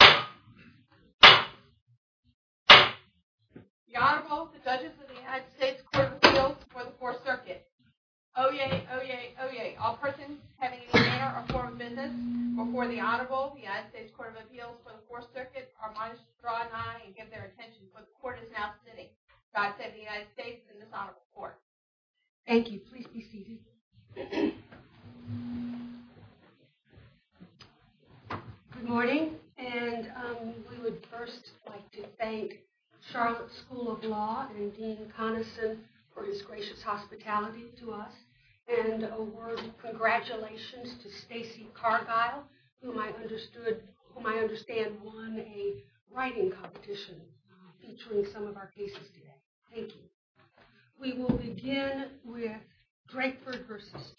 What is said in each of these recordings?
The Honorable, the Judges of the United States Court of Appeals for the Fourth Circuit. Oyez, oyez, oyez. All persons having any manner or form of business before the Honorable of the United States Court of Appeals for the Fourth Circuit are admonished to draw an eye and give their attention to what the Court is now sitting. God save the United States and this Honorable Court. Thank you. Please be seated. Good morning. And we would first like to thank Charlotte School of Law and Dean Connison for his gracious hospitality to us. And a word of congratulations to Stacey Cargile, whom I understood, whom I understand won a writing competition featuring some of our cases today. Thank you. We will begin with Drakeford v.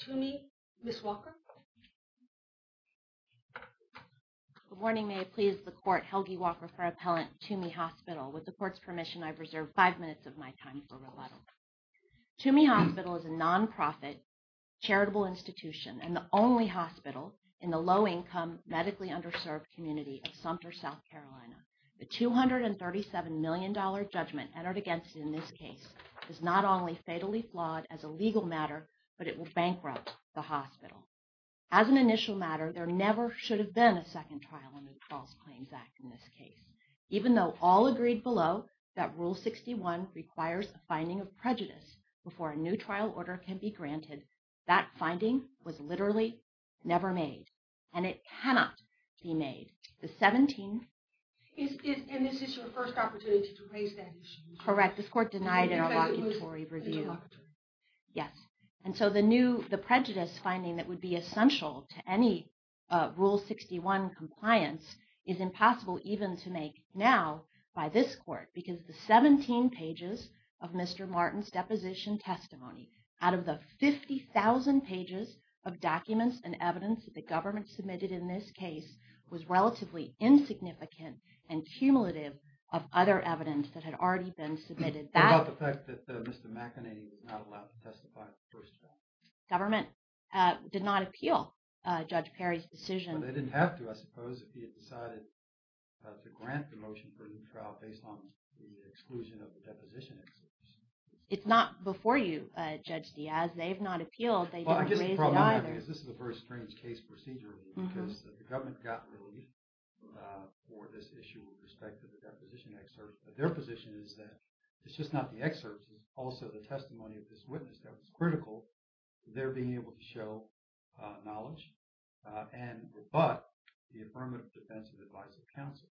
Tuomey. Ms. Walker. Good morning. May it please the Court, Helgi Walker for Appellant, Tuomey Hospital. With the Court's permission, I've reserved five minutes of my time for rebuttal. Tuomey Hospital is a non-profit charitable institution and the only hospital in the low-income, medically underserved community of Sumter, South Carolina. The $237 million judgment entered against it in this case is not only fatally flawed as a legal matter, but it will bankrupt the hospital. As an initial matter, there never should have been a second trial in the False Claims Act in this case. Even though all agreed below that Rule 61 requires a finding of prejudice before a new trial order can be granted, that finding was literally never made. And it cannot be made. The 17... And this is your first opportunity to raise that issue. Correct. This Court denied an evocatory review. Yes. And so the prejudice finding that would be essential to any Rule 61 compliance is impossible even to make now by this Court. Because the 17 pages of Mr. Martin's deposition testimony, out of the 50,000 pages of documents and evidence that the government submitted in this case, was relatively insignificant and cumulative of other evidence that had already been submitted. What about the fact that Mr. McEnany was not allowed to testify at the first trial? Government did not appeal Judge Perry's decision. Well, they didn't have to, I suppose, if he had decided to grant the motion for a new trial based on the exclusion of the deposition excerpts. It's not before you, Judge Diaz. They have not appealed. They didn't raise it either. Well, I guess the problem is this is a very strange case procedure because the government got relief for this issue with respect to the deposition excerpt. Their position is that it's just not the excerpts, it's also the testimony of this witness that was critical to their being able to show knowledge and rebut the affirmative defensive advice of counsel.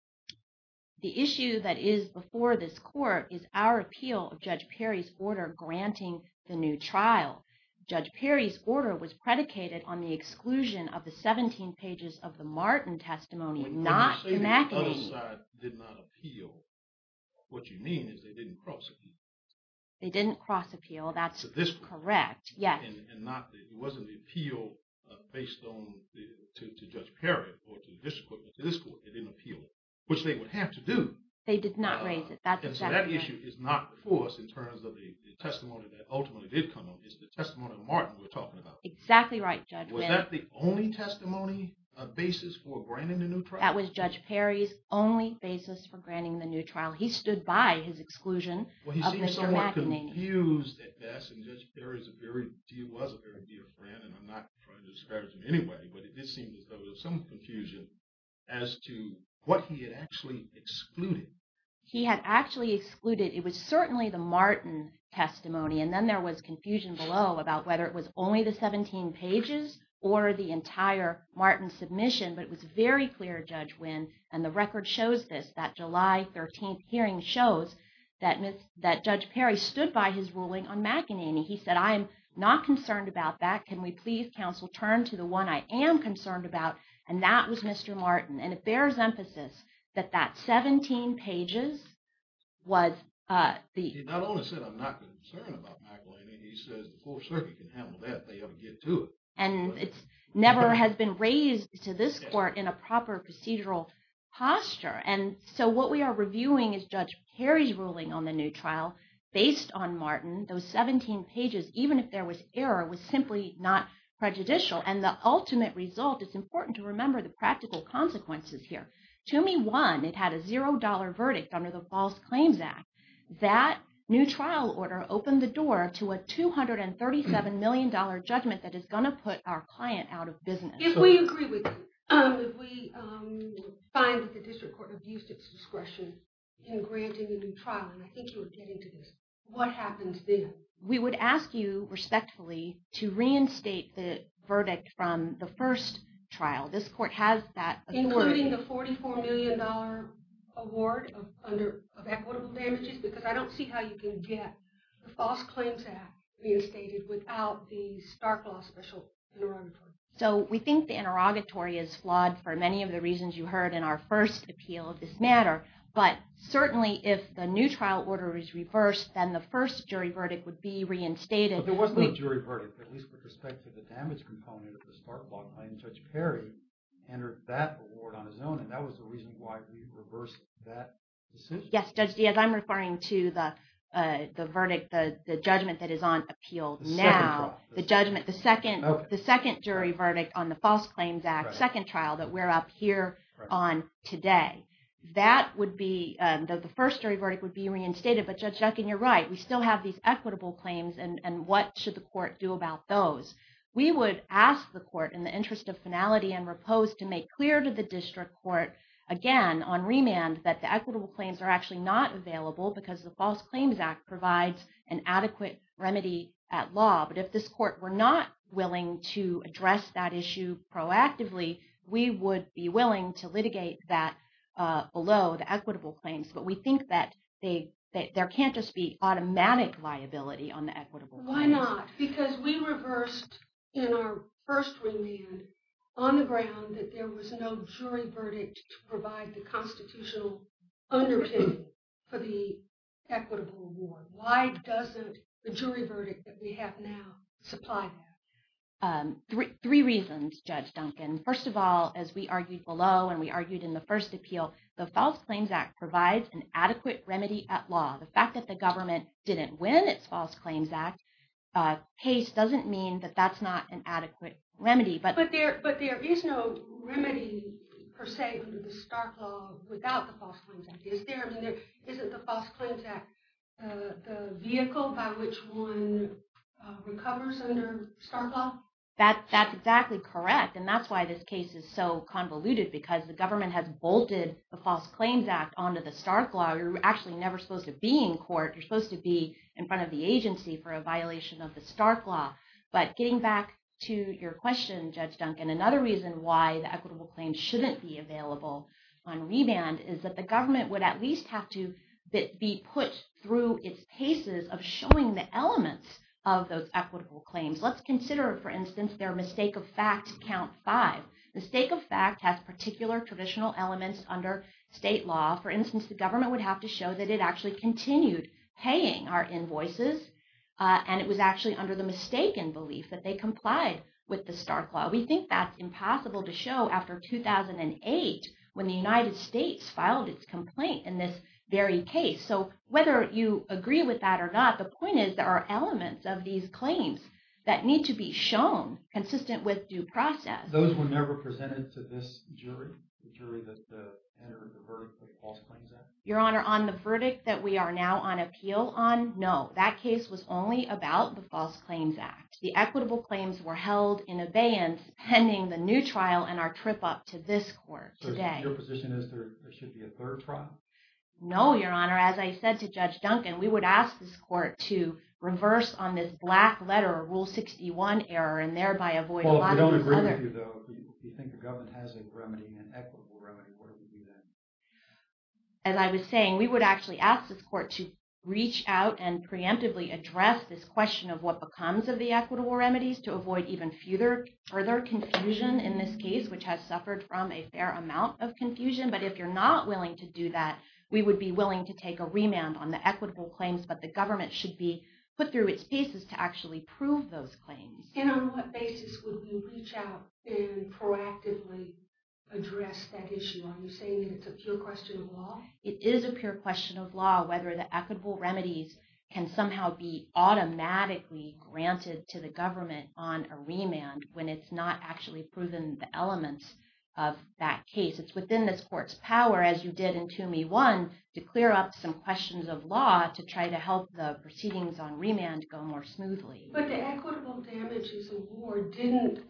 The issue that is before this Court is our appeal of Judge Perry's order granting the new trial. Judge Perry's order was predicated on the exclusion of the 17 pages of the Martin testimony, not McEnany's. The other side did not appeal. What you mean is they didn't cross-appeal. They didn't cross-appeal. That's correct, yes. And it wasn't the appeal based on Judge Perry or to the district court, but to this court. They didn't appeal it, which they would have to do. They did not raise it. That's exactly right. And so that issue is not before us in terms of the testimony that ultimately did come up. It's the testimony of Martin we're talking about. Exactly right, Judge. Was that the only testimony basis for granting the new trial? That was Judge Perry's only basis for granting the new trial. He stood by his exclusion of Mr. McEnany. Well, he seemed somewhat confused at best, and Judge Perry was a very dear friend, and I'm not trying to discourage him anyway, but it did seem that there was some confusion as to what he had actually excluded. He had actually excluded, it was certainly the Martin testimony, and then there was confusion below about whether it was only the 17 pages or the entire Martin submission. But it was very clear, Judge Wynn, and the record shows this, that July 13th hearing shows that Judge Perry stood by his ruling on McEnany. He said, I am not concerned about that. Can we please, counsel, turn to the one I am concerned about? And that was Mr. Martin, and it bears emphasis that that 17 pages was the… He not only said, I'm not concerned about McEnany, he says the Fourth Circuit can handle that if they ever get to it. And it never has been raised to this court in a proper procedural posture. And so what we are reviewing is Judge Perry's ruling on the new trial based on Martin. Those 17 pages, even if there was error, was simply not prejudicial, and the ultimate result, it's important to remember the practical consequences here. To me, one, it had a $0 verdict under the False Claims Act. That new trial order opened the door to a $237 million judgment that is going to put our client out of business. If we agree with you, if we find that the district court abused its discretion in granting a new trial, and I think you were getting to this, what happens then? We would ask you, respectfully, to reinstate the verdict from the first trial. This court has that authority. Including the $44 million award of equitable damages? Because I don't see how you can get the False Claims Act reinstated without the Stark Law Special Neuroendocrine. So we think the interrogatory is flawed for many of the reasons you heard in our first appeal of this matter. But certainly if the new trial order is reversed, then the first jury verdict would be reinstated. But there was no jury verdict, at least with respect to the damage component of the Stark Law claim. Judge Perry entered that award on his own, and that was the reason why we reversed that decision. Yes, Judge Diaz, I'm referring to the verdict, the judgment that is on appeal now. The second jury verdict on the False Claims Act, second trial that we're up here on today. That would be, the first jury verdict would be reinstated, but Judge Duncan, you're right. We still have these equitable claims, and what should the court do about those? We would ask the court, in the interest of finality and repose, to make clear to the district court, again on remand, that the equitable claims are actually not available because the False Claims Act provides an adequate remedy at law. But if this court were not willing to address that issue proactively, we would be willing to litigate that below the equitable claims. But we think that there can't just be automatic liability on the equitable claims. Why not? Because we reversed in our first remand on the ground that there was no jury verdict to provide the constitutional underpinning for the equitable award. Why doesn't the jury verdict that we have now supply that? Three reasons, Judge Duncan. First of all, as we argued below, and we argued in the first appeal, the False Claims Act provides an adequate remedy at law. The fact that the government didn't win its False Claims Act case doesn't mean that that's not an adequate remedy. But there is no remedy per se under the Stark Law without the False Claims Act. Isn't the False Claims Act the vehicle by which one recovers under Stark Law? That's exactly correct, and that's why this case is so convoluted, because the government has bolted the False Claims Act onto the Stark Law. You're actually never supposed to be in court. You're supposed to be in front of the agency for a violation of the Stark Law. But getting back to your question, Judge Duncan, another reason why the equitable claims shouldn't be available on remand is that the government would at least have to be put through its paces of showing the elements of those equitable claims. Let's consider, for instance, their mistake-of-fact count five. Mistake-of-fact has particular traditional elements under state law. For instance, the government would have to show that it actually continued paying our invoices, and it was actually under the mistaken belief that they complied with the Stark Law. We think that's impossible to show after 2008 when the United States filed its complaint in this very case. So whether you agree with that or not, the point is there are elements of these claims that need to be shown consistent with due process. Those were never presented to this jury, the jury that entered the verdict of the False Claims Act? Your Honor, on the verdict that we are now on appeal on, no. That case was only about the False Claims Act. The equitable claims were held in abeyance pending the new trial and our trip up to this court today. So your position is there should be a third trial? No, Your Honor. As I said to Judge Duncan, we would ask this court to reverse on this black letter, Rule 61 error, and thereby avoid a lot of these other— So if you think the government has a remedy, an equitable remedy, what would you do then? As I was saying, we would actually ask this court to reach out and preemptively address this question of what becomes of the equitable remedies to avoid even further confusion in this case, which has suffered from a fair amount of confusion. But if you're not willing to do that, we would be willing to take a remand on the equitable claims, but the government should be put through its paces to actually prove those claims. And on what basis would you reach out and proactively address that issue? Are you saying that it's a pure question of law? It is a pure question of law whether the equitable remedies can somehow be automatically granted to the government on a remand when it's not actually proven the elements of that case. It's within this court's power, as you did in TUME 1, to clear up some questions of law to try to help the proceedings on remand go more smoothly. But the equitable damages award didn't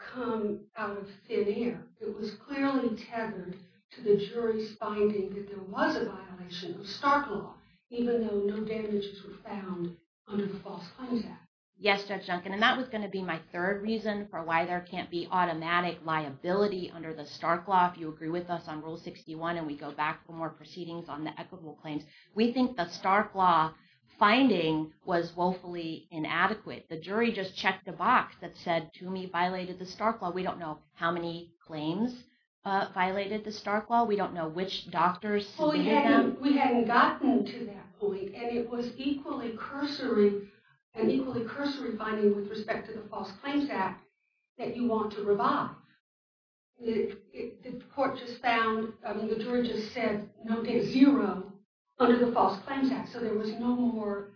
come out of thin air. It was clearly tethered to the jury's finding that there was a violation of Stark Law, even though no damages were found under the False Claims Act. Yes, Judge Duncan, and that was going to be my third reason for why there can't be automatic liability under the Stark Law. If you agree with us on Rule 61 and we go back for more proceedings on the equitable claims, we think the Stark Law finding was woefully inadequate. The jury just checked the box that said TUME violated the Stark Law. We don't know how many claims violated the Stark Law. We don't know which doctors submitted them. We hadn't gotten to that point, and it was equally cursory, an equally cursory finding with respect to the False Claims Act that you want to revive. The court just found, the jury just said no damage, zero, under the False Claims Act. So there was no more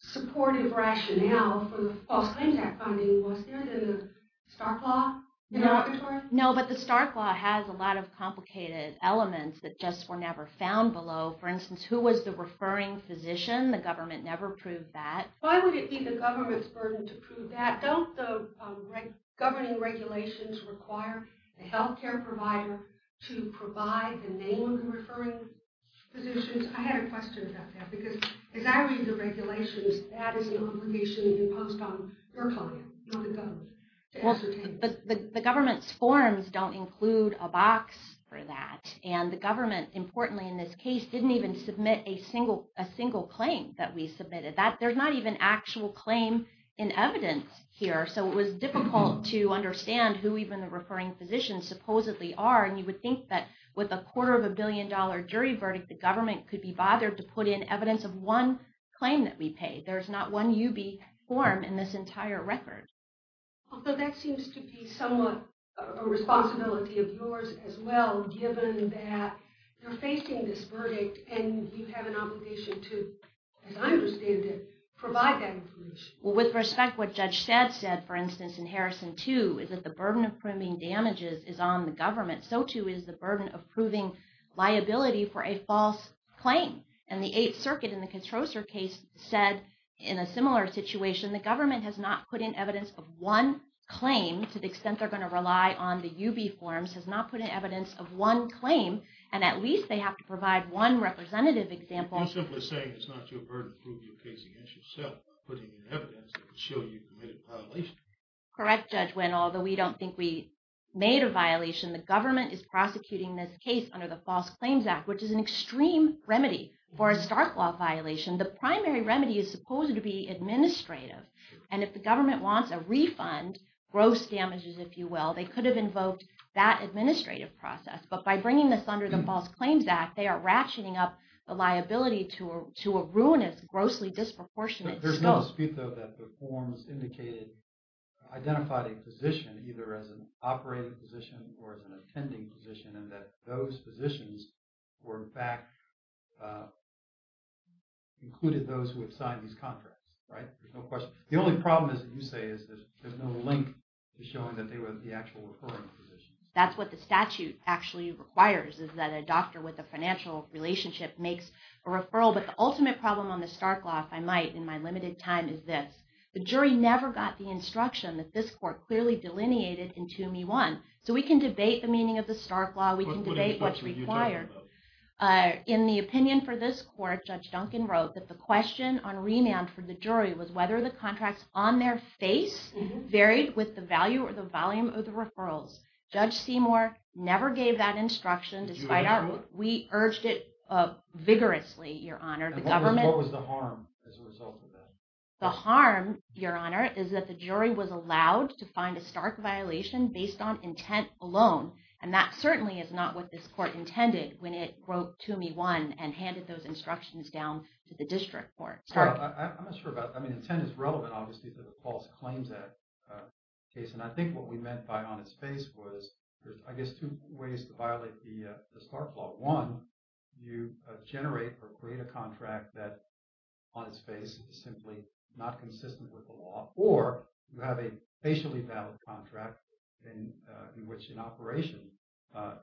supportive rationale for the False Claims Act finding, was there, than the Stark Law? No, but the Stark Law has a lot of complicated elements that just were never found below. For instance, who was the referring physician? The government never proved that. Why would it be the government's burden to prove that? Don't the governing regulations require the health care provider to provide the name of the referring physician? I had a question about that, because as I read the regulations, that is an obligation imposed on your client, not the government, to ascertain. The government's forms don't include a box for that, and the government, importantly in this case, didn't even submit a single claim that we submitted. There's not even actual claim in evidence here, so it was difficult to understand who even the referring physicians supposedly are. And you would think that with a quarter of a billion dollar jury verdict, the government could be bothered to put in evidence of one claim that we paid. There's not one UB form in this entire record. Although that seems to be somewhat a responsibility of yours as well, given that you're facing this verdict, and you have an obligation to, as I understand it, provide that information. Well, with respect, what Judge Stead said, for instance, in Harrison 2, is that the burden of proving damages is on the government. So too is the burden of proving liability for a false claim. And the Eighth Circuit in the Controser case said, in a similar situation, the government has not put in evidence of one claim, to the extent they're going to rely on the UB forms, has not put in evidence of one claim, and at least they have to provide one representative example. I'm simply saying it's not your burden to prove your case against yourself, putting in evidence that could show you've committed a violation. Correct, Judge Wynn. Although we don't think we made a violation, the government is prosecuting this case under the False Claims Act, which is an extreme remedy for a Stark Law violation. The primary remedy is supposed to be administrative. And if the government wants a refund, gross damages, if you will, they could have invoked that administrative process. But by bringing this under the False Claims Act, they are ratcheting up the liability to a ruinous, grossly disproportionate scope. There's no dispute, though, that the forms identified a position, either as an operating position or as an attending position, and that those positions were, in fact, included those who had signed these contracts. The only problem, as you say, is there's no link to showing that they were the actual referring position. That's what the statute actually requires, is that a doctor with a financial relationship makes a referral. But the ultimate problem on the Stark Law, if I might, in my limited time, is this. The jury never got the instruction that this court clearly delineated in 2 Me 1. So we can debate the meaning of the Stark Law, we can debate what's required. In the opinion for this court, Judge Duncan wrote that the question on remand for the jury was whether the contracts on their face varied with the value or the volume of the referrals. Judge Seymour never gave that instruction. We urged it vigorously, Your Honor. What was the harm as a result of that? The harm, Your Honor, is that the jury was allowed to find a Stark violation based on intent alone. And that certainly is not what this court intended when it wrote 2 Me 1 and handed those instructions down to the district court. I'm not sure about – I mean, intent is relevant, obviously, to the false claims case. And I think what we meant by on its face was there's, I guess, two ways to violate the Stark Law. One, you generate or create a contract that on its face is simply not consistent with the law, or you have a facially valid contract in which an operation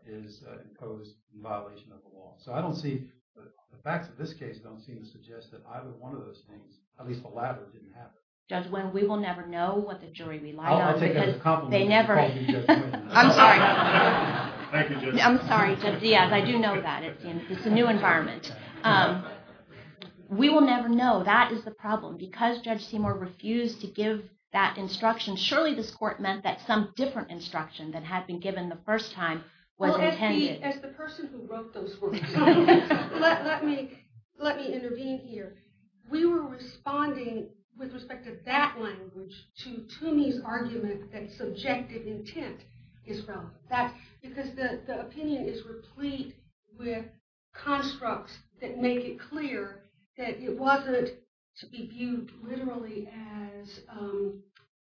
is imposed in violation of the law. So I don't see – the facts of this case don't seem to suggest that either one of those things, at least the latter, didn't happen. Judge Wynn, we will never know what the jury relied on. I'll take that as a compliment. I'm sorry. Thank you, Judge. I'm sorry, Judge Diaz. I do know that. It's a new environment. We will never know. That is the problem. Because Judge Seymour refused to give that instruction, surely this court meant that some different instruction that had been given the first time was intended. As the person who wrote those words, let me intervene here. We were responding with respect to that language to Toomey's argument that subjective intent is relevant. Because the opinion is replete with constructs that make it clear that it wasn't to be viewed literally as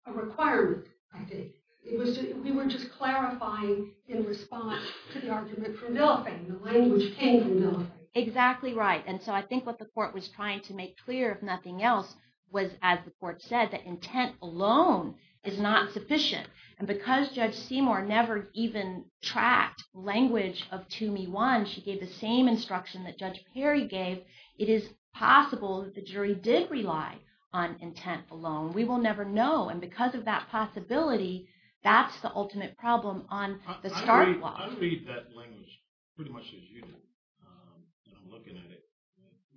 a requirement, I think. We were just clarifying in response to the argument from Villefayne. The language came from Villefayne. Exactly right. And so I think what the court was trying to make clear, if nothing else, was, as the court said, that intent alone is not sufficient. And because Judge Seymour never even tracked language of Toomey 1, she gave the same instruction that Judge Perry gave, it is possible that the jury did rely on intent alone. We will never know. And because of that possibility, that's the ultimate problem on the start block. I read that language pretty much as you do. And I'm looking at it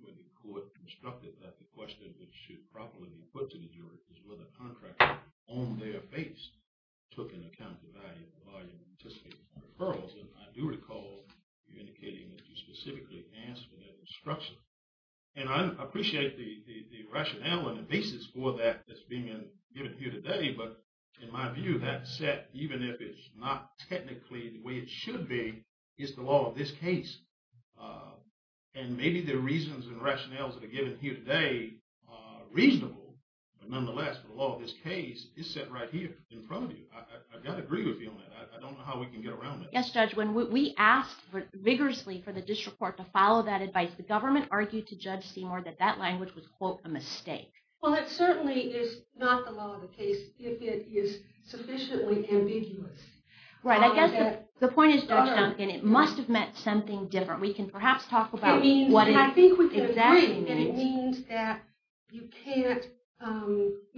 with the court constructed that the question that should properly be put to the jury is whether contract on their base took into account the value of the argument. I do recall you indicating that you specifically asked for that instruction. And I appreciate the rationale and the basis for that that's being given here today. But in my view, that set, even if it's not technically the way it should be, is the law of this case. And maybe the reasons and rationales that are given here today are reasonable. But nonetheless, the law of this case is set right here in front of you. I've got to agree with you on that. I don't know how we can get around it. Yes, Judge. When we asked vigorously for the district court to follow that advice, the government argued to Judge Seymour that that language was, quote, a mistake. Well, that certainly is not the law of the case if it is sufficiently ambiguous. Right. I guess the point is, Judge Duncan, it must have meant something different. We can perhaps talk about what it exactly means. I think we can agree that it means that you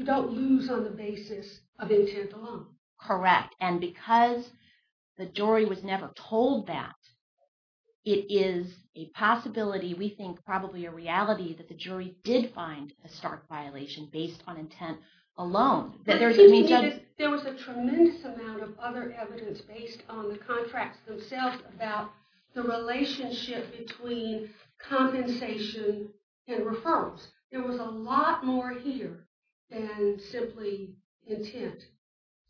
don't lose on the basis of intent alone. Correct. And because the jury was never told that, it is a possibility, we think probably a reality, that the jury did find a stark violation based on intent alone. There was a tremendous amount of other evidence based on the contracts themselves about the relationship between compensation and referrals. There was a lot more here than simply intent.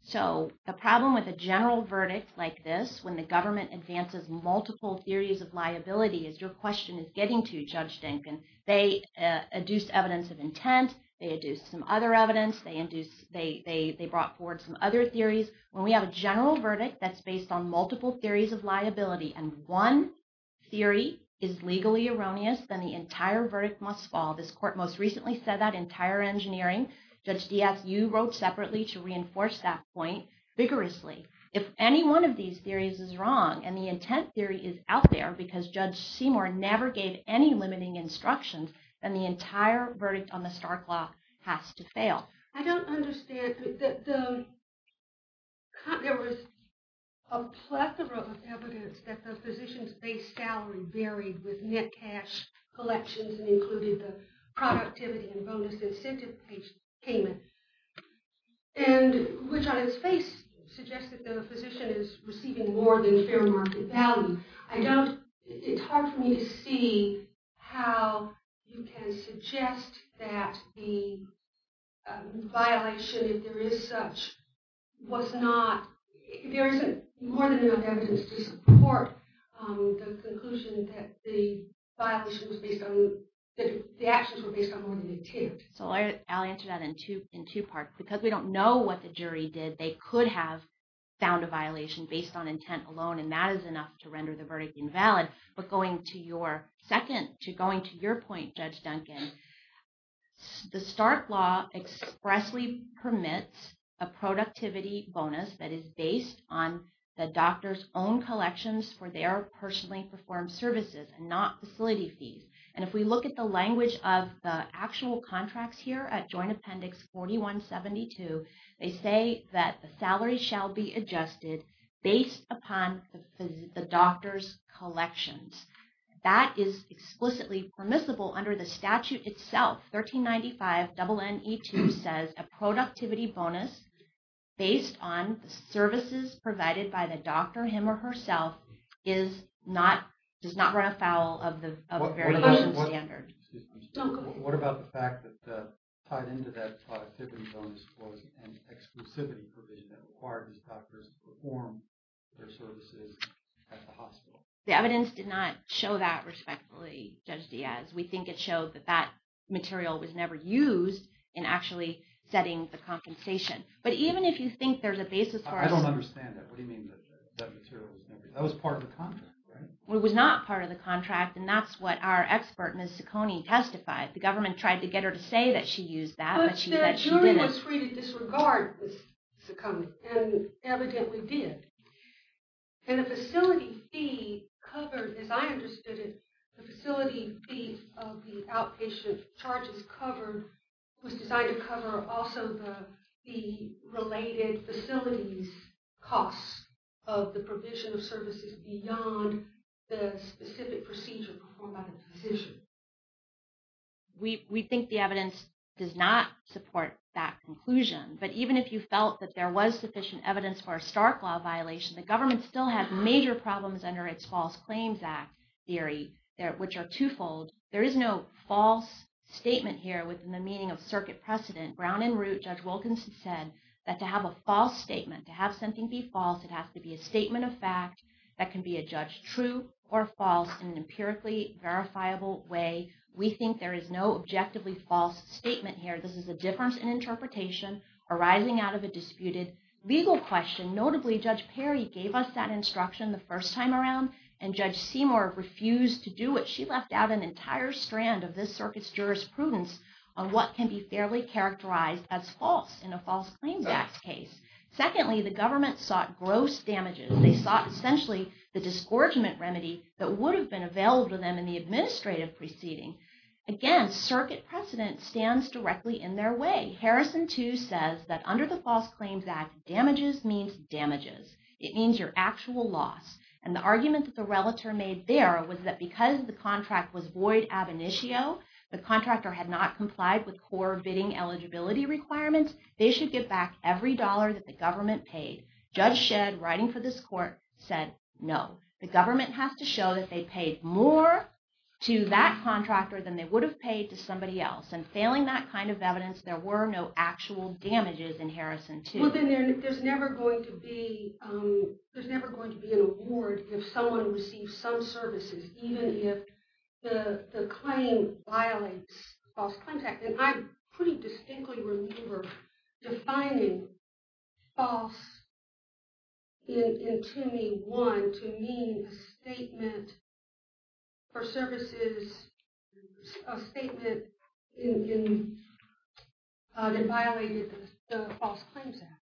So, the problem with a general verdict like this, when the government advances multiple theories of liability, is your question is getting to, Judge Duncan. They adduced evidence of intent. They adduced some other evidence. They brought forward some other theories. When we have a general verdict that's based on multiple theories of liability and one theory is legally erroneous, then the entire verdict must fall. This court most recently said that in Tire Engineering. Judge Diaz, you wrote separately to reinforce that point vigorously. If any one of these theories is wrong and the intent theory is out there because Judge Seymour never gave any limiting instructions, then the entire verdict on the Stark Law has to fail. I don't understand. There was a plethora of evidence that the physician's base salary varied with net cash collections and included the productivity and bonus incentive payment. Which on its face suggests that the physician is receiving more than fair market value. It's hard for me to see how you can suggest that the violation, if there is such, was not... There isn't more than enough evidence to support the conclusion that the actions were based on more than intent. I'll answer that in two parts. Because we don't know what the jury did, they could have found a violation based on intent alone and that is enough to render the verdict invalid. But going to your point, Judge Duncan, the Stark Law expressly permits a productivity bonus that is based on the doctor's own collections for their personally performed services and not facility fees. And if we look at the language of the actual contracts here at Joint Appendix 4172, they say that the salary shall be adjusted based upon the doctor's collections. That is explicitly permissible under the statute itself. 1395 NNE2 says a productivity bonus based on the services provided by the doctor, him or herself, does not run afoul of the very same standard. What about the fact that tied into that productivity bonus was an exclusivity provision that required these doctors to perform their services at the hospital? The evidence did not show that respectfully, Judge Diaz. We think it showed that that material was never used in actually setting the compensation. But even if you think there's a basis for... I don't understand that. What do you mean that that material was never used? That was part of the contract, right? It was not part of the contract and that's what our expert, Ms. Ciccone, testified. The government tried to get her to say that she used that, but she said she didn't. Everyone was free to disregard Ms. Ciccone, and evidently did. And the facility fee covered, as I understood it, the facility fees of the outpatient charges was designed to cover also the related facilities costs of the provision of services beyond the specific procedure performed by the physician. We think the evidence does not support that conclusion. But even if you felt that there was sufficient evidence for a Stark Law violation, the government still had major problems under its False Claims Act theory, which are twofold. There is no false statement here within the meaning of circuit precedent. Ground and root, Judge Wilkinson said that to have a false statement, to have something be false, it has to be a statement of fact that can be a judge true or false in an empirically verifiable way. We think there is no objectively false statement here. This is a difference in interpretation arising out of a disputed legal question. Notably, Judge Perry gave us that instruction the first time around, and Judge Seymour refused to do it. She left out an entire strand of this circuit's jurisprudence on what can be fairly characterized as false in a False Claims Act case. Secondly, the government sought gross damages. They sought essentially the disgorgement remedy that would have been available to them in the administrative proceeding. Again, circuit precedent stands directly in their way. Secondly, Harrison 2 says that under the False Claims Act, damages means damages. It means your actual loss. And the argument that the relator made there was that because the contract was void ab initio, the contractor had not complied with core bidding eligibility requirements, they should get back every dollar that the government paid. Judge Shedd, writing for this court, said no. The government has to show that they paid more to that contractor than they would have paid to somebody else. And failing that kind of evidence, there were no actual damages in Harrison 2. Well, then there's never going to be an award if someone receives some services, even if the claim violates the False Claims Act. And I pretty distinctly remember defining false in Timmy 1 to mean a statement for services, a statement that violated the False Claims Act.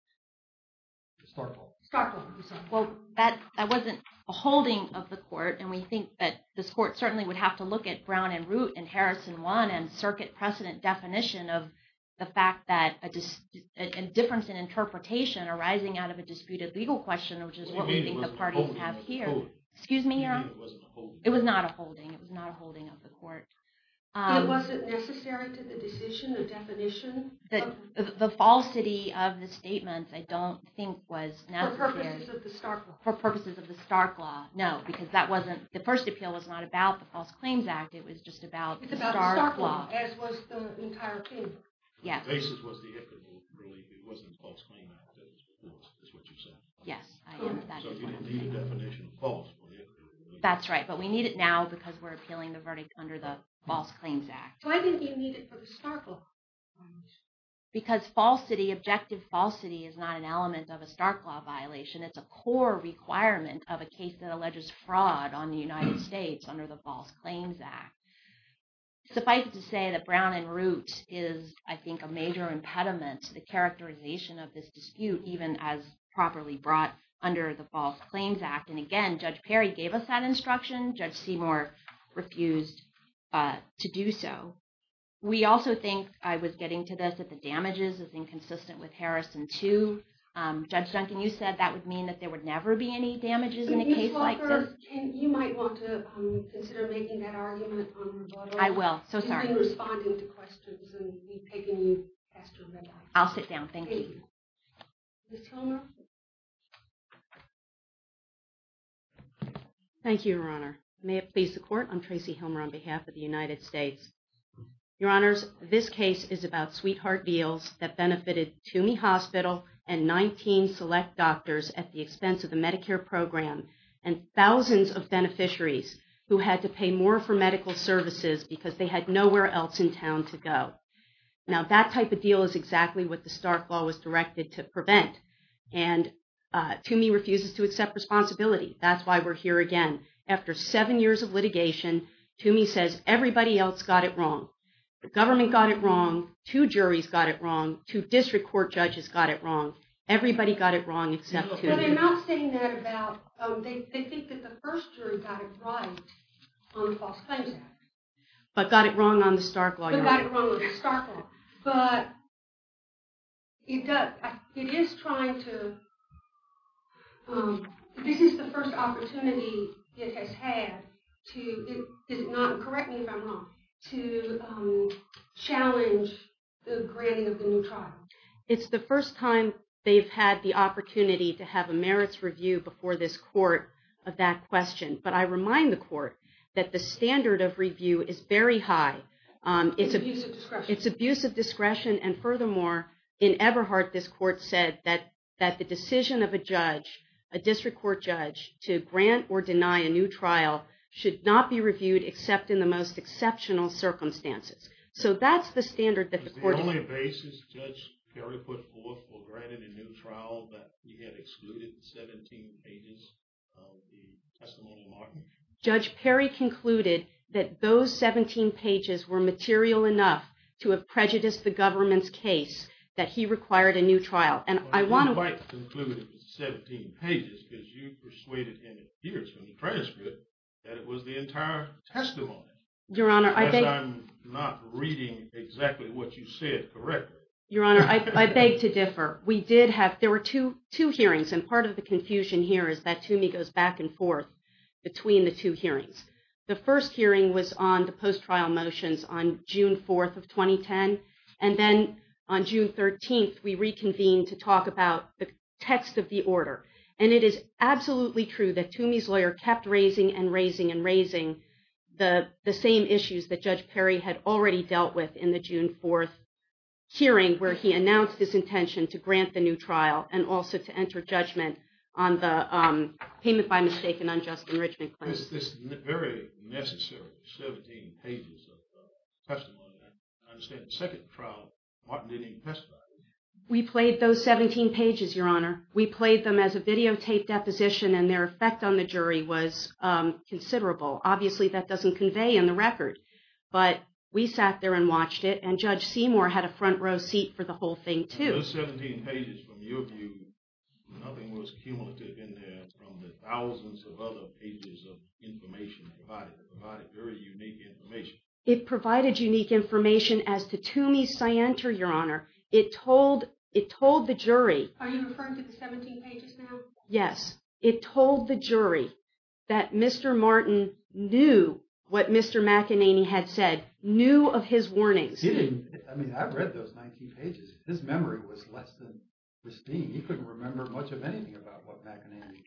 Starkville. Starkville. Well, that wasn't a holding of the court. And we think that this court certainly would have to look at Brown and Root and Harrison 1 and circuit precedent definition of the fact that a difference in interpretation arising out of a disputed legal question, which is what we think the parties have here. It wasn't a holding. Excuse me, Your Honor? It wasn't a holding. It was not a holding. It was not a holding of the court. It wasn't necessary to the decision or definition? The falsity of the statements I don't think was necessary. For purposes of the Stark Law. For purposes of the Stark Law. No, because the first appeal was not about the False Claims Act. It was just about Stark Law. It was about the Stark Law, as was the entire case. The basis was the IFCA relief. It wasn't the False Claims Act that was forced, is what you're saying. Yes, I am. So you didn't need a definition of false for the IFCA relief. That's right. But we need it now because we're appealing the verdict under the False Claims Act. So I didn't think you needed it for the Stark Law. Because falsity, objective falsity, is not an element of a Stark Law violation. It's a core requirement of a case that alleges fraud on the United States under the False Claims Act. Suffice it to say that Brown en route is, I think, a major impediment to the characterization of this dispute, And again, Judge Perry gave us that instruction. Judge Seymour refused to do so. We also think, I was getting to this, that the damages is inconsistent with Harrison 2. Judge Duncan, you said that would mean that there would never be any damages in a case like this. You might want to consider making that argument on rebuttal. I will. So sorry. You've been responding to questions and we've taken you past your red line. I'll sit down. Thank you. Ms. Hilmer? Thank you, Your Honor. May it please the Court, I'm Tracy Hilmer on behalf of the United States. Your Honors, this case is about sweetheart deals that benefited Toomey Hospital and 19 select doctors at the expense of the Medicare program and thousands of beneficiaries who had to pay more for medical services because they had nowhere else in town to go. Now that type of deal is exactly what the Stark Law was directed to prevent. And Toomey refuses to accept responsibility. That's why we're here again. After seven years of litigation, Toomey says everybody else got it wrong. The government got it wrong, two juries got it wrong, two district court judges got it wrong. Everybody got it wrong except Toomey. But I'm not saying that about, they think that the first jury got it right on the False Claims Act. But got it wrong on the Stark Law, Your Honor. Got it wrong on the Stark Law. But it is trying to, this is the first opportunity it has had to, correct me if I'm wrong, to challenge the granting of the new trial. It's the first time they've had the opportunity to have a merits review before this Court of that question. But I remind the Court that the standard of review is very high. It's abuse of discretion. It's abuse of discretion, and furthermore, in Eberhardt this Court said that the decision of a judge, a district court judge, to grant or deny a new trial should not be reviewed except in the most exceptional circumstances. So that's the standard that the Court... Was the only basis Judge Perry put forth for granting a new trial that he had excluded 17 pages of the testimonial argument? Judge Perry concluded that those 17 pages were material enough to have prejudiced the government's case that he required a new trial. And I want to... Well, I didn't quite conclude it was 17 pages because you persuaded him, it appears from the transcript, that it was the entire testimony. Your Honor, I beg... Because I'm not reading exactly what you said correctly. Your Honor, I beg to differ. We did have... There were two hearings, and part of the confusion here is that Toomey goes back and forth between the two hearings. The first hearing was on the post-trial motions on June 4th of 2010, and then on June 13th we reconvened to talk about the text of the order. And it is absolutely true that Toomey's lawyer kept raising and raising and raising the same issues that Judge Perry had already dealt with in the June 4th hearing where he announced his intention to grant the new trial and also to enter judgment on the payment by mistake and unjust enrichment claim. This very necessary 17 pages of testimony, I understand the second trial Martin didn't even testify to. We played those 17 pages, Your Honor. We played them as a videotaped deposition, and their effect on the jury was considerable. Obviously, that doesn't convey in the record, but we sat there and watched it, and Judge Seymour had a front row seat for the whole thing, too. Those 17 pages, from your view, nothing was cumulative in there from the thousands of other pages of information provided. It provided very unique information. It provided unique information as to Toomey's scienter, Your Honor. It told the jury... Are you referring to the 17 pages now? Yes. It told the jury that Mr. Martin knew what Mr. McEnany had said, knew of his warnings. He didn't... I mean, I read those 19 pages. His memory was less than pristine. He couldn't remember much of anything about what McEnany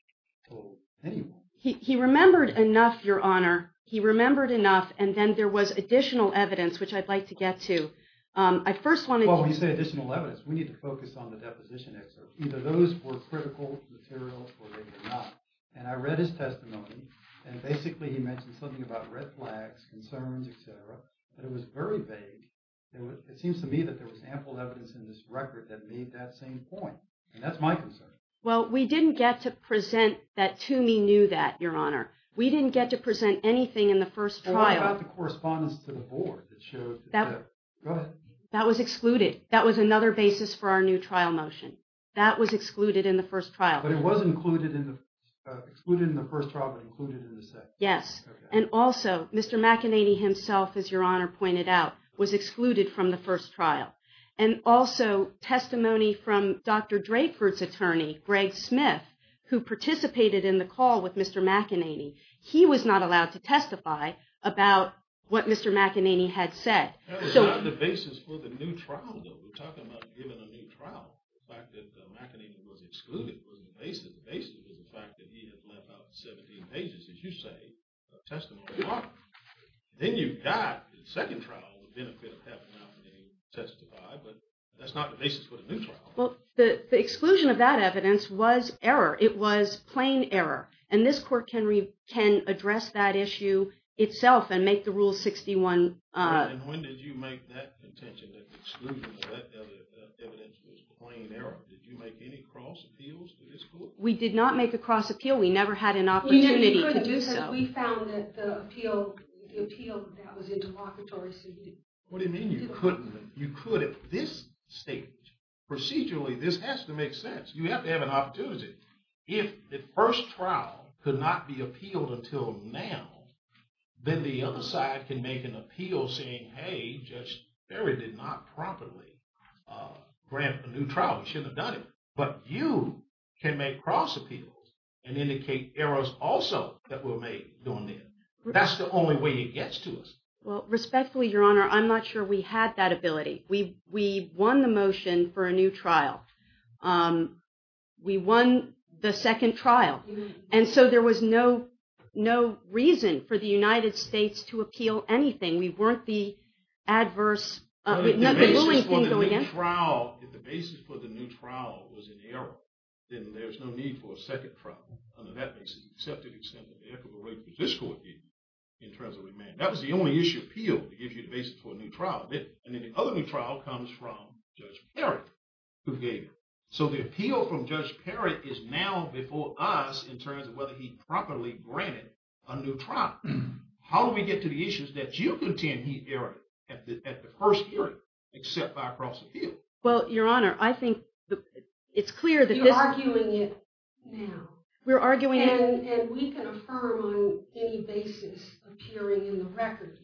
told anyone. He remembered enough, Your Honor. He remembered enough, and then there was additional evidence, which I'd like to get to. I first wanted to... Well, when you say additional evidence, we need to focus on the deposition excerpts. Either those were critical materials, or they were not. And I read his testimony, and basically he mentioned something about red flags, concerns, etc. But it was very vague. It seems to me that there was ample evidence in this record that made that same point. And that's my concern. Well, we didn't get to present that Toomey knew that, Your Honor. We didn't get to present anything in the first trial. And what about the correspondence to the board that showed... Go ahead. That was excluded. That was another basis for our new trial motion. That was excluded in the first trial. But it was excluded in the first trial, but included in the second. Yes. And also, Mr. McEnany himself, as Your Honor pointed out, was excluded from the first trial. And also, testimony from Dr. Drakeford's attorney, Greg Smith, who participated in the call with Mr. McEnany. He was not allowed to testify about what Mr. McEnany had said. That was not the basis for the new trial, though. We're talking about giving a new trial. The fact that McEnany was excluded was the basis. The basis was the fact that he had left out 17 pages, as you say, of testimony. Then you got, in the second trial, the benefit of having McEnany testify. But that's not the basis for the new trial. Well, the exclusion of that evidence was error. It was plain error. And this court can address that issue itself and make the Rule 61... And when did you make that contention that the exclusion of that evidence was plain error? Did you make any cross-appeals to this court? We did not make a cross-appeal. We never had an opportunity to do so. We found that the appeal that was in the locatory... What do you mean you couldn't? You could at this stage. Procedurally, this has to make sense. You have to have an opportunity. If the first trial could not be appealed until now, then the other side can make an appeal saying, Hey, Judge Ferry did not properly grant a new trial. We shouldn't have done it. But you can make cross-appeals and indicate errors also that were made during then. That's the only way it gets to us. Well, respectfully, Your Honor, I'm not sure we had that ability. We won the motion for a new trial. We won the second trial. And so there was no reason for the United States to appeal anything. We weren't the adverse... If the basis for the new trial was an error, then there's no need for a second trial. Under that basis, the accepted extent of the equitable rate that this court gave you in terms of remand. That was the only issue appealed, to give you the basis for a new trial. And then the other new trial comes from Judge Perry, who gave it. So the appeal from Judge Perry is now before us in terms of whether he properly granted a new trial. How do we get to the issues that you contend he erred at the first hearing except by cross-appeal? Well, Your Honor, I think it's clear that this... You're arguing it now. We're arguing it... And we can affirm on any basis appearing in the record.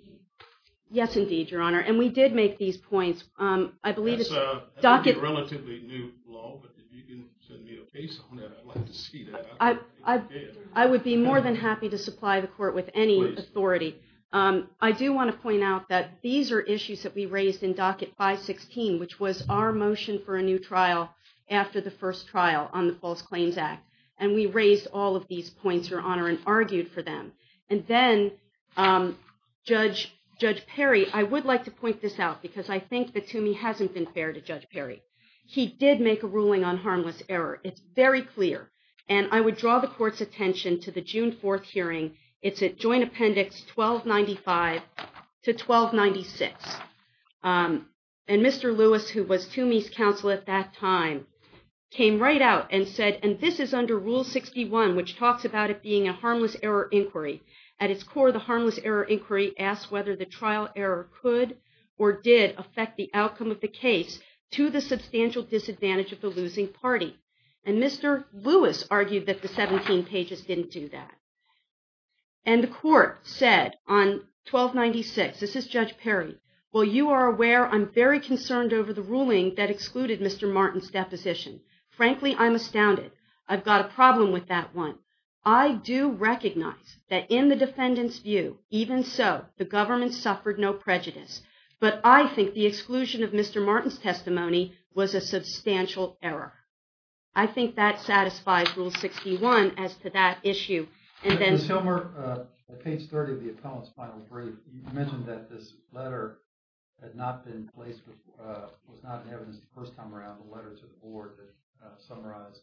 Yes, indeed, Your Honor. And we did make these points. That's a relatively new law, but if you can send me a case on it, I'd like to see that. I would be more than happy to supply the court with any authority. I do want to point out that these are issues that we raised in Docket 516, which was our motion for a new trial after the first trial on the False Claims Act. And we raised all of these points, Your Honor, and argued for them. And then, Judge Perry, I would like to point this out because I think that Toomey hasn't been fair to Judge Perry. He did make a ruling on harmless error. It's very clear. And I would draw the court's attention to the June 4th hearing. It's at Joint Appendix 1295 to 1296. And Mr. Lewis, who was Toomey's counsel at that time, came right out and said, and this is under Rule 61, which talks about it being a harmless error inquiry. At its core, the harmless error inquiry asks whether the trial error could or did affect the outcome of the case to the substantial disadvantage of the losing party. And Mr. Lewis argued that the 17 pages didn't do that. And the court said on 1296, this is Judge Perry, Well, you are aware I'm very concerned over the ruling that excluded Mr. Martin's deposition. Frankly, I'm astounded. I've got a problem with that one. I do recognize that in the defendant's view, even so, the government suffered no prejudice. But I think the exclusion of Mr. Martin's testimony was a substantial error. I think that satisfies Rule 61 as to that issue. And then, I'm going to go back to the board to summarize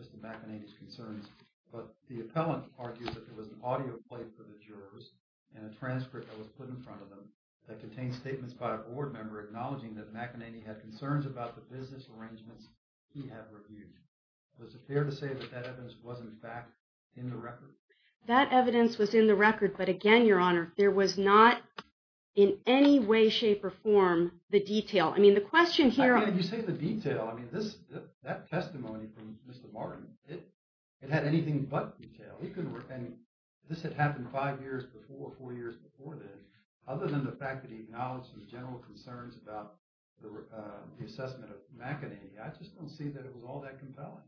Mr. McAnany's concerns. But the appellant argues that there was an audio plate for the jurors and a transcript that was put in front of them that contained statements by a board member acknowledging that McAnany had concerns about the business arrangements he had reviewed. Was it fair to say that that evidence was, in fact, in the record? That evidence was in the record. But again, Your Honor, there was not in any way, shape, or form the detail. You say the detail. That testimony from Mr. Martin, it had anything but detail. This had happened five years before, four years before this. Other than the fact that he acknowledged his general concerns about the assessment of McAnany, I just don't see that it was all that compelling.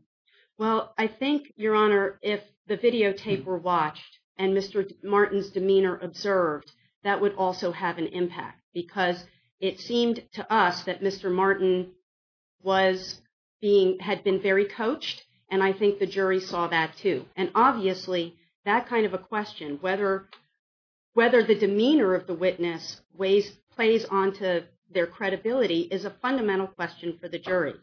Well, I think, Your Honor, if the videotape were watched and Mr. Martin's demeanor observed, that would also have an impact. Because it seemed to us that Mr. Martin had been very coached, and I think the jury saw that too. And obviously, that kind of a question, whether the demeanor of the witness plays onto their credibility, is a fundamental question for the jury.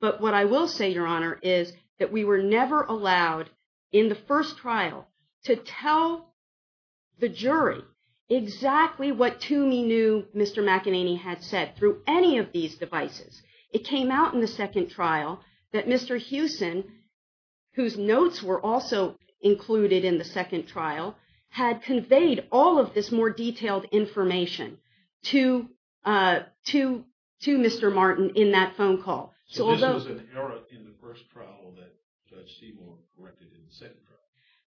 But what I will say, Your Honor, is that we were never allowed, in the first trial, to tell the jury exactly what Toomey knew Mr. McAnany had said through any of these devices. It came out in the second trial that Mr. Hewson, whose notes were also included in the second trial, had conveyed all of this more detailed information to Mr. Martin in that phone call. So this was an error in the first trial that Judge Seaborn corrected in the second trial?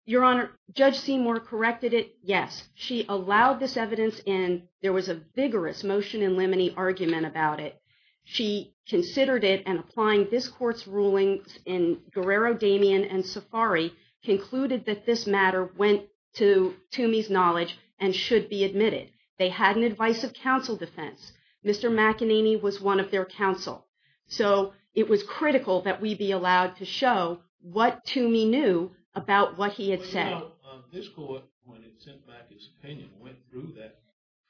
Your Honor, Judge Seaborn corrected it, yes. She allowed this evidence in. There was a vigorous motion in limine argument about it. She considered it, and applying this court's rulings in Guerrero, Damien, and Safari, concluded that this matter went to Toomey's knowledge and should be admitted. They had an advice of counsel defense. Mr. McAnany was one of their counsel. So it was critical that we be allowed to show what Toomey knew about what he had said. This court, when it sent back its opinion, went through that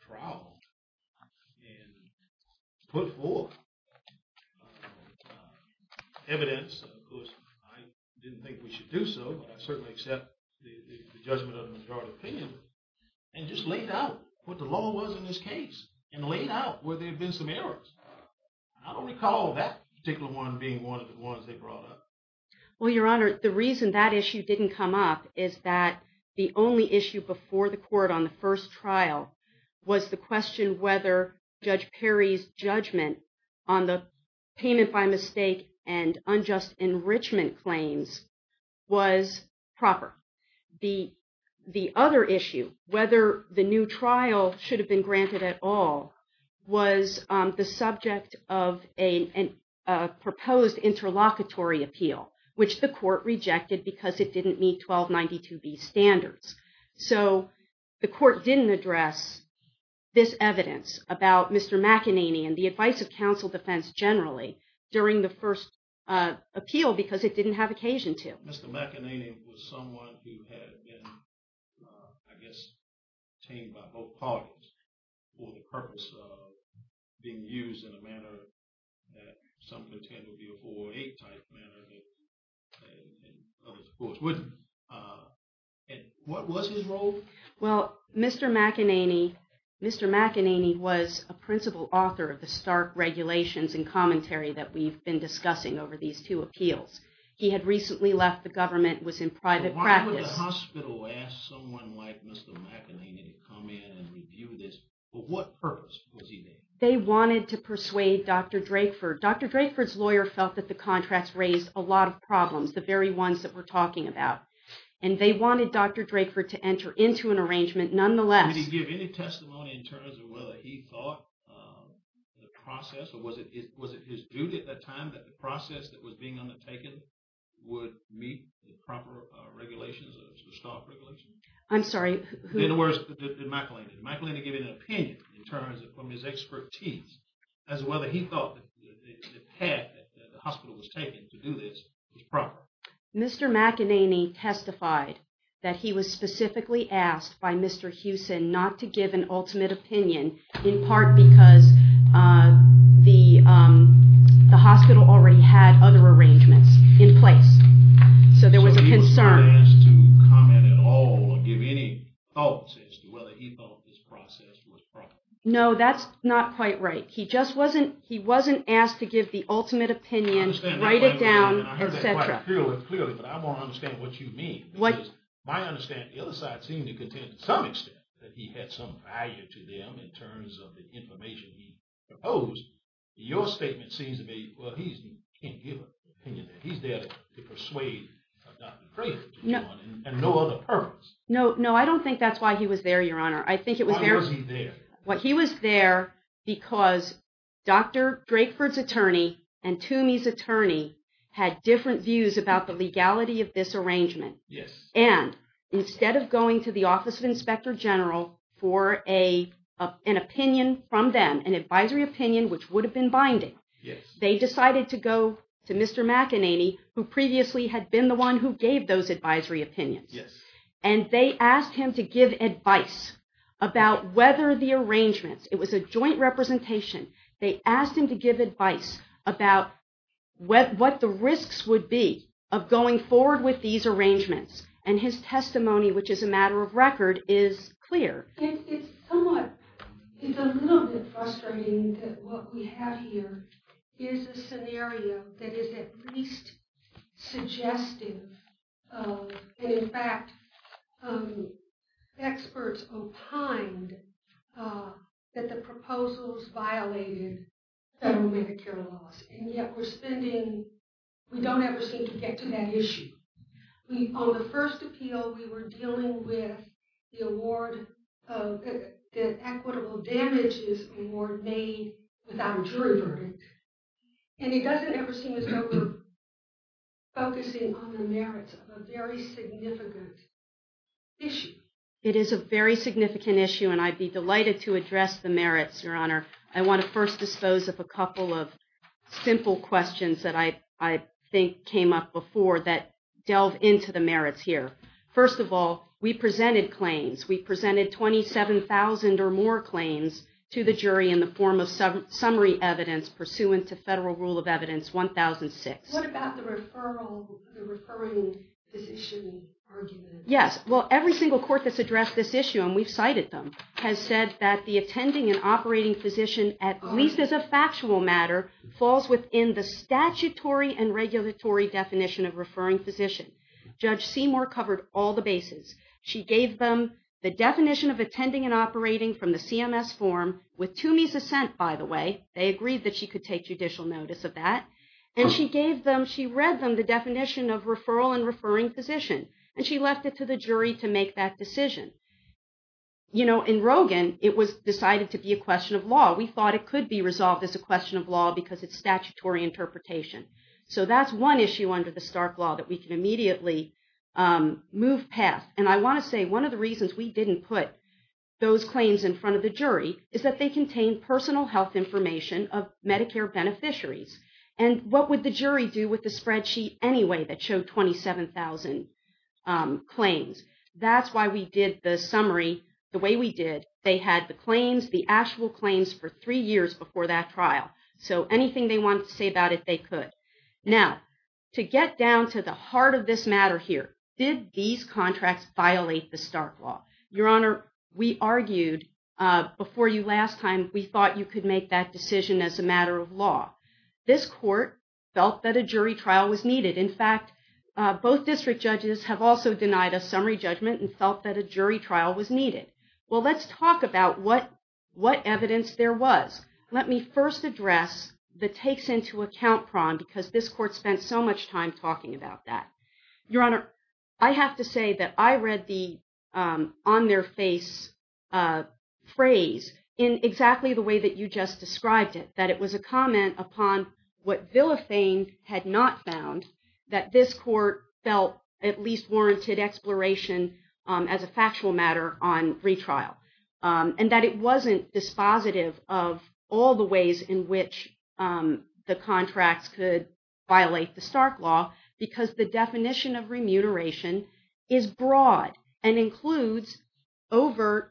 trial and put forth evidence. Of course, I didn't think we should do so, but I certainly accept the judgment of the majority opinion, and just laid out what the law was in this case, and laid out where there had been some errors. I don't recall that particular one being one that they brought up. Well, Your Honor, the reason that issue didn't come up is that the only issue before the court on the first trial was the question whether Judge Perry's judgment on the payment by mistake and unjust enrichment claims was proper. The other issue, whether the new trial should have been granted at all, was the subject of a proposed interlocutory appeal, which the court rejected because it didn't meet 1292B standards. So the court didn't address this evidence about Mr. McAnany and the advice of counsel defense generally during the first appeal because it didn't have occasion to. Mr. McAnany was someone who had been, I guess, tamed by both parties for the purpose of being used in a manner that some contend would be a 408-type manner that others, of course, wouldn't. And what was his role? Well, Mr. McAnany was a principal author of the stark regulations and commentary that we've been discussing over these two appeals. He had recently left the government and was in private practice. Why would a hospital ask someone like Mr. McAnany to come in and review this? For what purpose was he there? They wanted to persuade Dr. Drakeford. Dr. Drakeford's lawyer felt that the contracts raised a lot of problems, the very ones that we're talking about. And they wanted Dr. Drakeford to enter into an arrangement. Did he give any testimony in terms of whether he thought the process, or was it his duty at that time that the process that was being undertaken would meet the proper regulations, the stark regulations? I'm sorry, who? In other words, did McAnany? Did McAnany give an opinion in terms of his expertise as to whether he thought the path that the hospital was taking to do this was proper? Mr. McAnany testified that he was specifically asked by Mr. Hewson not to give an ultimate opinion in part because the hospital already had other arrangements in place. So there was a concern. So he was not asked to comment at all or give any thoughts as to whether he thought this process was proper? No, that's not quite right. He just wasn't asked to give the ultimate opinion, write it down, etc. I hear that quite clearly, but I want to understand what you mean. Because my understanding, the other side seemed to contend to some extent that he had some value to them in terms of the information he proposed. Your statement seems to me, well, he can't give an opinion. He's there to persuade Dr. Drakeford and no other purpose. No, I don't think that's why he was there, Your Honor. Why was he there? Well, he was there because Dr. Drakeford's attorney and Toomey's attorney had different views about the legality of this arrangement. Yes. And instead of going to the Office of Inspector General for an opinion from them, an advisory opinion which would have been binding, they decided to go to Mr. McAnany, who previously had been the one who gave those advisory opinions. Yes. And they asked him to give advice about whether the arrangements, it was a joint representation, they asked him to give advice about what the risks would be of going forward with these arrangements. And his testimony, which is a matter of record, is clear. It's somewhat, it's a little bit frustrating that what we have here is a scenario that is at least suggestive of, and in fact, experts opined that the proposals violated federal Medicare laws. And yet we're spending, we don't ever seem to get to that issue. On the first appeal, we were dealing with the award, the equitable damages award made without a jury verdict. And it doesn't ever seem as though we're focusing on the merits of a very significant issue. It is a very significant issue, and I'd be delighted to address the merits, Your Honor. I want to first dispose of a couple of simple questions that I think came up before that delve into the merits here. First of all, we presented claims. We presented 27,000 or more claims to the jury in the form of summary evidence pursuant to Federal Rule of Evidence 1006. What about the referral, the referring physician argument? Yes, well, every single court that's addressed this issue, and we've cited them, has said that the attending and operating physician, at least as a factual matter, falls within the statutory and regulatory definition of referring physician. Judge Seymour covered all the bases. She gave them the definition of attending and operating from the CMS form with Toomey's assent, by the way. They agreed that she could take judicial notice of that. And she gave them, she read them the definition of referral and referring physician. And she left it to the jury to make that decision. You know, in Rogin, it was decided to be a question of law. We thought it could be resolved as a question of law because it's statutory interpretation. So that's one issue under the Stark Law that we can immediately move past. And I want to say one of the reasons we didn't put those claims in front of the jury is that they contain personal health information of Medicare beneficiaries. And what would the jury do with the spreadsheet anyway that showed 27,000 claims? That's why we did the summary the way we did. They had the claims, the actual claims, for three years before that trial. So anything they wanted to say about it, they could. Now, to get down to the heart of this matter here, did these contracts violate the Stark Law? Your Honor, we argued before you last time, we thought you could make that decision as a matter of law. This court felt that a jury trial was needed. In fact, both district judges have also denied a summary judgment and felt that a jury trial was needed. Well, let's talk about what evidence there was. Let me first address the takes into account problem because this court spent so much time talking about that. Your Honor, I have to say that I read the on their face phrase in exactly the way that you just described it. That it was a comment upon what Villafane had not found, that this court felt at least warranted exploration as a factual matter on retrial. And that it wasn't dispositive of all the ways in which the contracts could violate the Stark Law because the definition of remuneration is broad and includes overt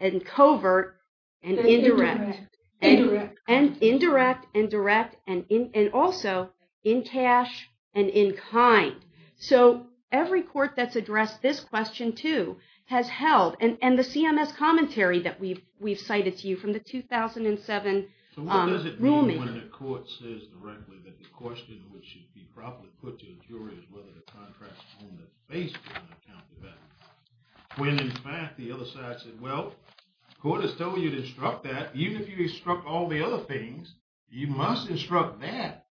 and covert and indirect. Indirect. Indirect and direct and also in cash and in kind. So every court that's addressed this question too has held. And the CMS commentary that we've cited to you from the 2007 ruling. So what does it mean when the court says directly that the question which should be properly put to the jury is whether the contract is on their face. When in fact the other side said, well, the court has told you to instruct that. Even if you instruct all the other things, you must instruct that.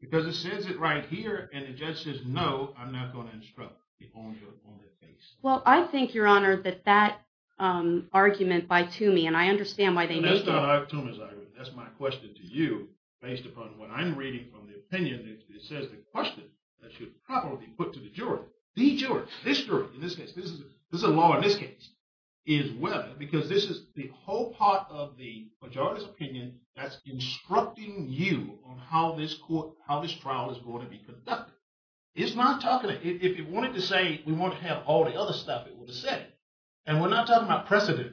Because it says it right here and the judge says, no, I'm not going to instruct it on their face. Well, I think, Your Honor, that that argument by Toomey, and I understand why they made it. That's not a Toomey's argument. That's my question to you based upon what I'm reading from the opinion that says the question that should probably be put to the jury. The jury. This jury. In this case. This is a law in this case. Is whether. Because this is the whole part of the majority's opinion that's instructing you on how this trial is going to be conducted. It's not talking. If it wanted to say we want to have all the other stuff, it would have said it. And we're not talking about precedent,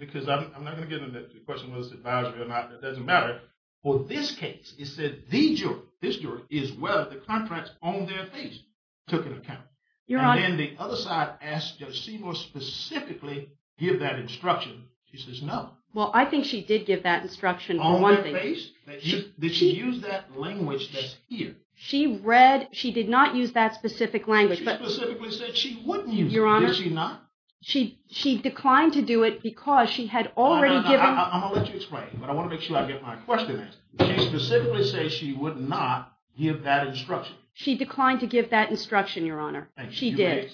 because I'm not going to get into the question whether it's advisory or not. It doesn't matter. For this case, it said the jury, this jury, is whether the contracts on their face took into account. Your Honor. And then the other side asked Judge Seymour specifically give that instruction. She says no. Well, I think she did give that instruction. On their face? Did she use that language that's here? She read. She did not use that specific language. She specifically said she wouldn't. Your Honor. Why would she not? She declined to do it because she had already given. I'm going to let you explain, but I want to make sure I get my question answered. She specifically said she would not give that instruction. She declined to give that instruction, Your Honor. She did.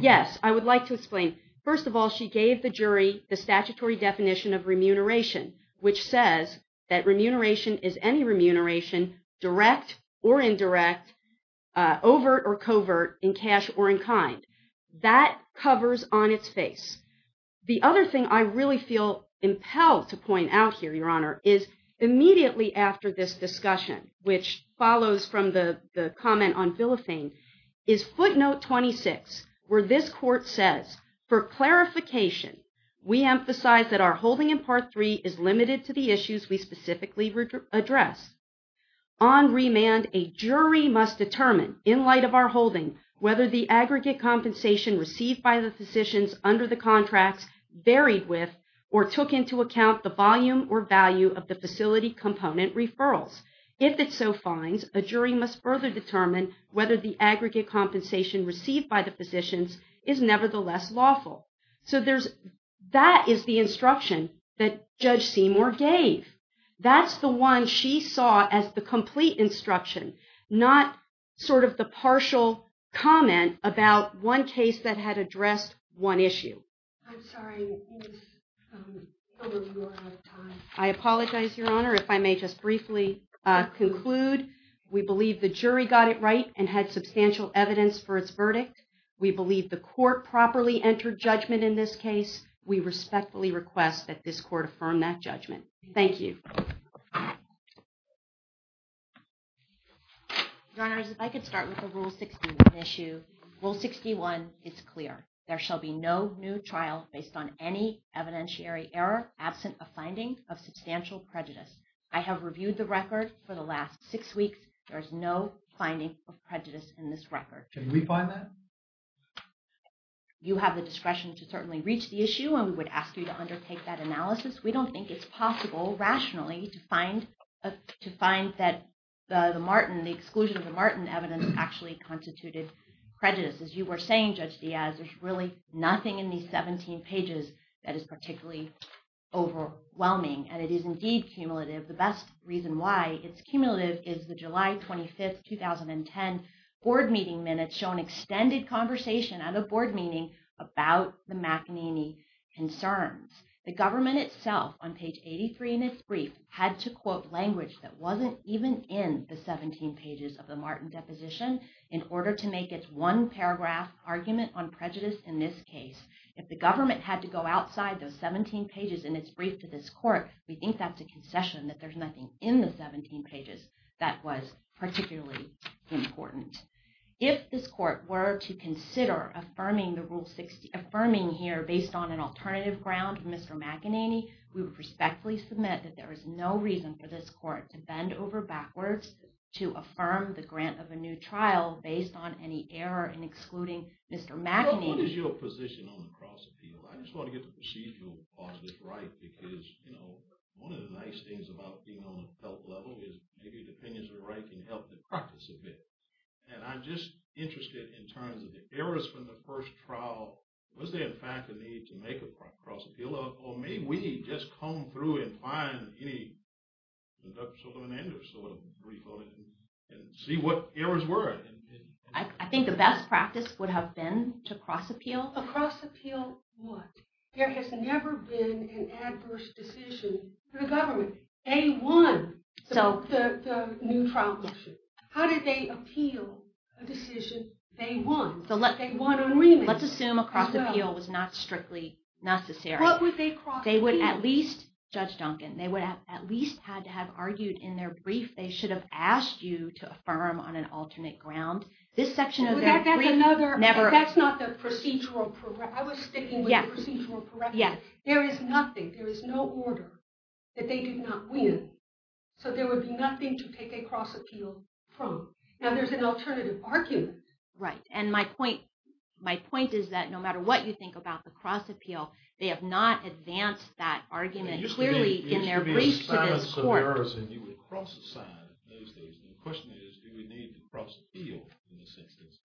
Yes, I would like to explain. First of all, she gave the jury the statutory definition of remuneration, which says that remuneration is any remuneration, direct or indirect, overt or covert, in cash or in kind. That covers on its face. The other thing I really feel impelled to point out here, Your Honor, is immediately after this discussion, which follows from the comment on Bill of Fame, is footnote 26, where this court says, for clarification, we emphasize that our holding in Part 3 is limited to the issues we specifically address. On remand, a jury must determine, in light of our holding, whether the aggregate compensation received by the physicians under the contracts varied with or took into account the volume or value of the facility component referrals. If it so finds, a jury must further determine whether the aggregate compensation received by the physicians is nevertheless lawful. So that is the instruction that Judge Seymour gave. That's the one she saw as the complete instruction, not sort of the partial comment about one case that had addressed one issue. I'm sorry. I apologize, Your Honor, if I may just briefly conclude. We believe the jury got it right and had substantial evidence for its verdict. We believe the court properly entered judgment in this case. We respectfully request that this court affirm that judgment. Thank you. Your Honors, if I could start with the Rule 61 issue. Rule 61 is clear. There shall be no new trial based on any evidentiary error absent a finding of substantial prejudice. I have reviewed the record for the last six weeks. There is no finding of prejudice in this record. Can we find that? You have the discretion to certainly reach the issue, and we would ask you to undertake that analysis. We don't think it's possible rationally to find that the exclusion of the Martin evidence actually constituted prejudice. As you were saying, Judge Diaz, there's really nothing in these 17 pages that is particularly overwhelming, and it is indeed cumulative. The best reason why it's cumulative is the July 25, 2010 board meeting minutes show an extended conversation at a board meeting about the McEnany concerns. The government itself on page 83 in its brief had to quote language that wasn't even in the 17 pages of the Martin deposition in order to make its one-paragraph argument on prejudice in this case. If the government had to go outside those 17 pages in its brief to this court, we think that's a concession that there's nothing in the 17 pages that was particularly important. If this court were to consider affirming here based on an alternative ground of Mr. McEnany, we would respectfully submit that there is no reason for this court to bend over backwards to affirm the grant of a new trial based on any error in excluding Mr. McEnany. What is your position on the cross-appeal? I just want to get the procedural positives right because, you know, one of the nice things about being on a felt level is maybe the opinions are right can help the practice a bit. And I'm just interested in terms of the errors from the first trial. Was there in fact a need to make a cross-appeal, or may we just comb through and find any sort of brief on it and see what errors were? I think the best practice would have been to cross-appeal. A cross-appeal what? There has never been an adverse decision for the government. They won the new trial. How did they appeal a decision they won? Let's assume a cross-appeal was not strictly necessary. They would at least, Judge Duncan, they would have at least had to have argued in their brief they should have asked you to affirm on an alternate ground. That's not the procedural, I was sticking with the procedural correctness. There is nothing, there is no order that they did not win. So there would be nothing to take a cross-appeal from. Now there's an alternative argument. Right, and my point is that no matter what you think about the cross-appeal, they have not advanced that argument clearly in their brief to this court. The question is do we need the cross-appeal in this instance?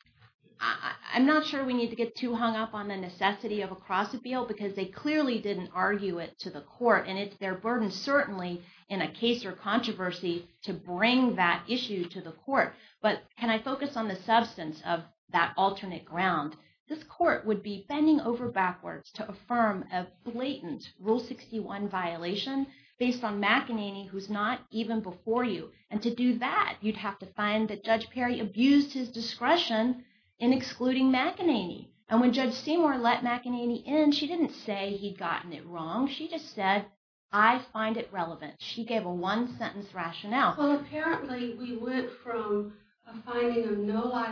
I'm not sure we need to get too hung up on the necessity of a cross-appeal because they clearly didn't argue it to the court and it's their burden certainly in a case or controversy to bring that issue to the court. But can I focus on the substance of that alternate ground? This court would be bending over backwards to affirm a blatant Rule 61 violation based on McEnany who's not even before you. And to do that, you'd have to find that Judge Perry abused his discretion in excluding McEnany. And when Judge Seymour let McEnany in, she didn't say he'd gotten it wrong, she just said, I find it relevant. She gave a one-sentence rationale. Well, apparently we went from a finding of no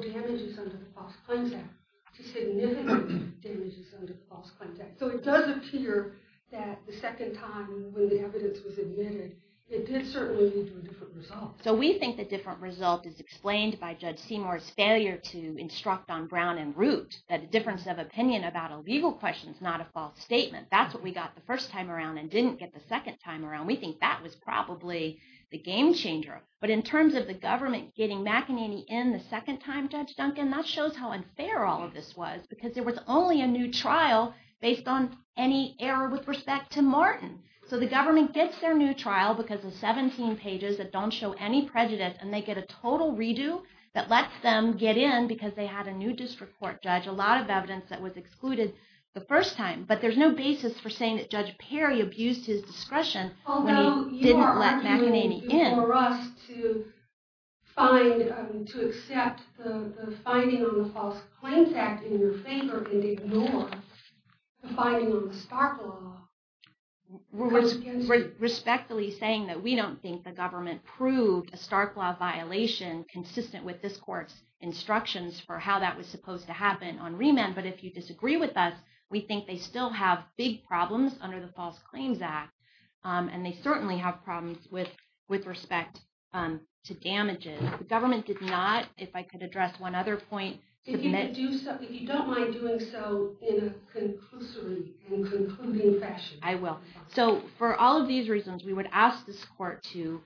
damages under the False Claims Act to significant damages under the False Claims Act. So it does appear that the second time when the evidence was admitted, it did certainly lead to a different result. And this is explained by Judge Seymour's failure to instruct on Brown and Root that the difference of opinion about a legal question is not a false statement. That's what we got the first time around and didn't get the second time around. We think that was probably the game changer. But in terms of the government getting McEnany in the second time, Judge Duncan, that shows how unfair all of this was because there was only a new trial based on any error with respect to Martin. So the government gets their new trial because of 17 pages that don't show any prejudice and they get a total redo that lets them get in because they had a new district court judge, a lot of evidence that was excluded the first time. But there's no basis for saying that Judge Perry abused his discretion when he didn't let McEnany in. So you want us to accept the finding on the False Claims Act in your favor and ignore the finding on the Stark Law? We're respectfully saying that we don't think the government proved a Stark Law violation consistent with this court's instructions for how that was supposed to happen on remand. But if you disagree with us, we think they still have big problems under the False Claims Act and they certainly have problems with respect to damages. The government did not, if I could address one other point... If you don't mind doing so in a conclusive and concluding fashion. I will. So for all of these reasons, we would ask this court to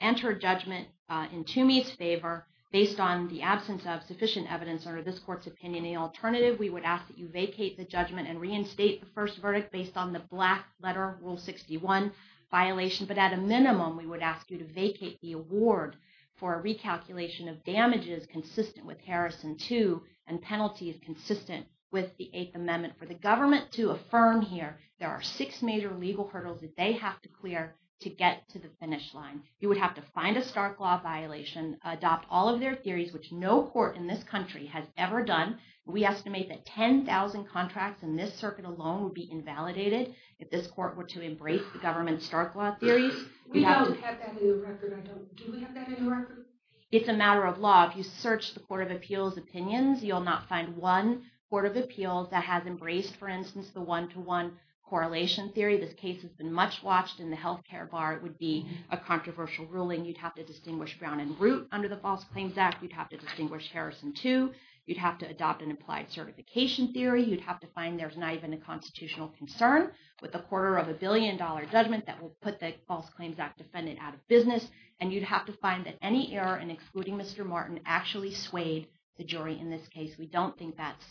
enter judgment in Toomey's favor based on the absence of sufficient evidence under this court's opinion. The alternative, we would ask that you vacate the judgment and reinstate the first verdict based on the black letter, Rule 61 violation. But at a minimum, we would ask you to vacate the award for a recalculation of damages consistent with Harrison 2 and penalties consistent with the 8th Amendment. For the government to affirm here, there are six major legal hurdles that they have to clear to get to the finish line. You would have to find a Stark Law violation, adopt all of their theories, which no court in this country has ever done. We estimate that 10,000 contracts in this circuit alone would be invalidated if this court were to embrace the government's Stark Law theories. We don't have that in the record. Do we have that in the record? It's a matter of law. If you search the Court of Appeals opinions, you'll not find one Court of Appeals that has embraced, for instance, the one-to-one correlation theory. This case has been much watched in the healthcare bar. It would be a controversial ruling. You'd have to distinguish Brown and Root under the False Claims Act. You'd have to distinguish Harrison 2. You'd have to adopt an applied certification theory. You'd have to find there's not even a constitutional concern with a quarter of a billion-dollar judgment that will put the False Claims Act defendant out of business. And you'd have to find that any error in excluding Mr. Martin actually swayed the jury in this case. We don't think that's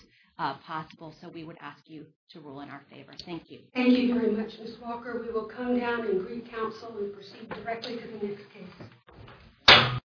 possible, so we would ask you to rule in our favor. Thank you. Thank you very much, Ms. Walker. We will come down and greet counsel and proceed directly to the next case.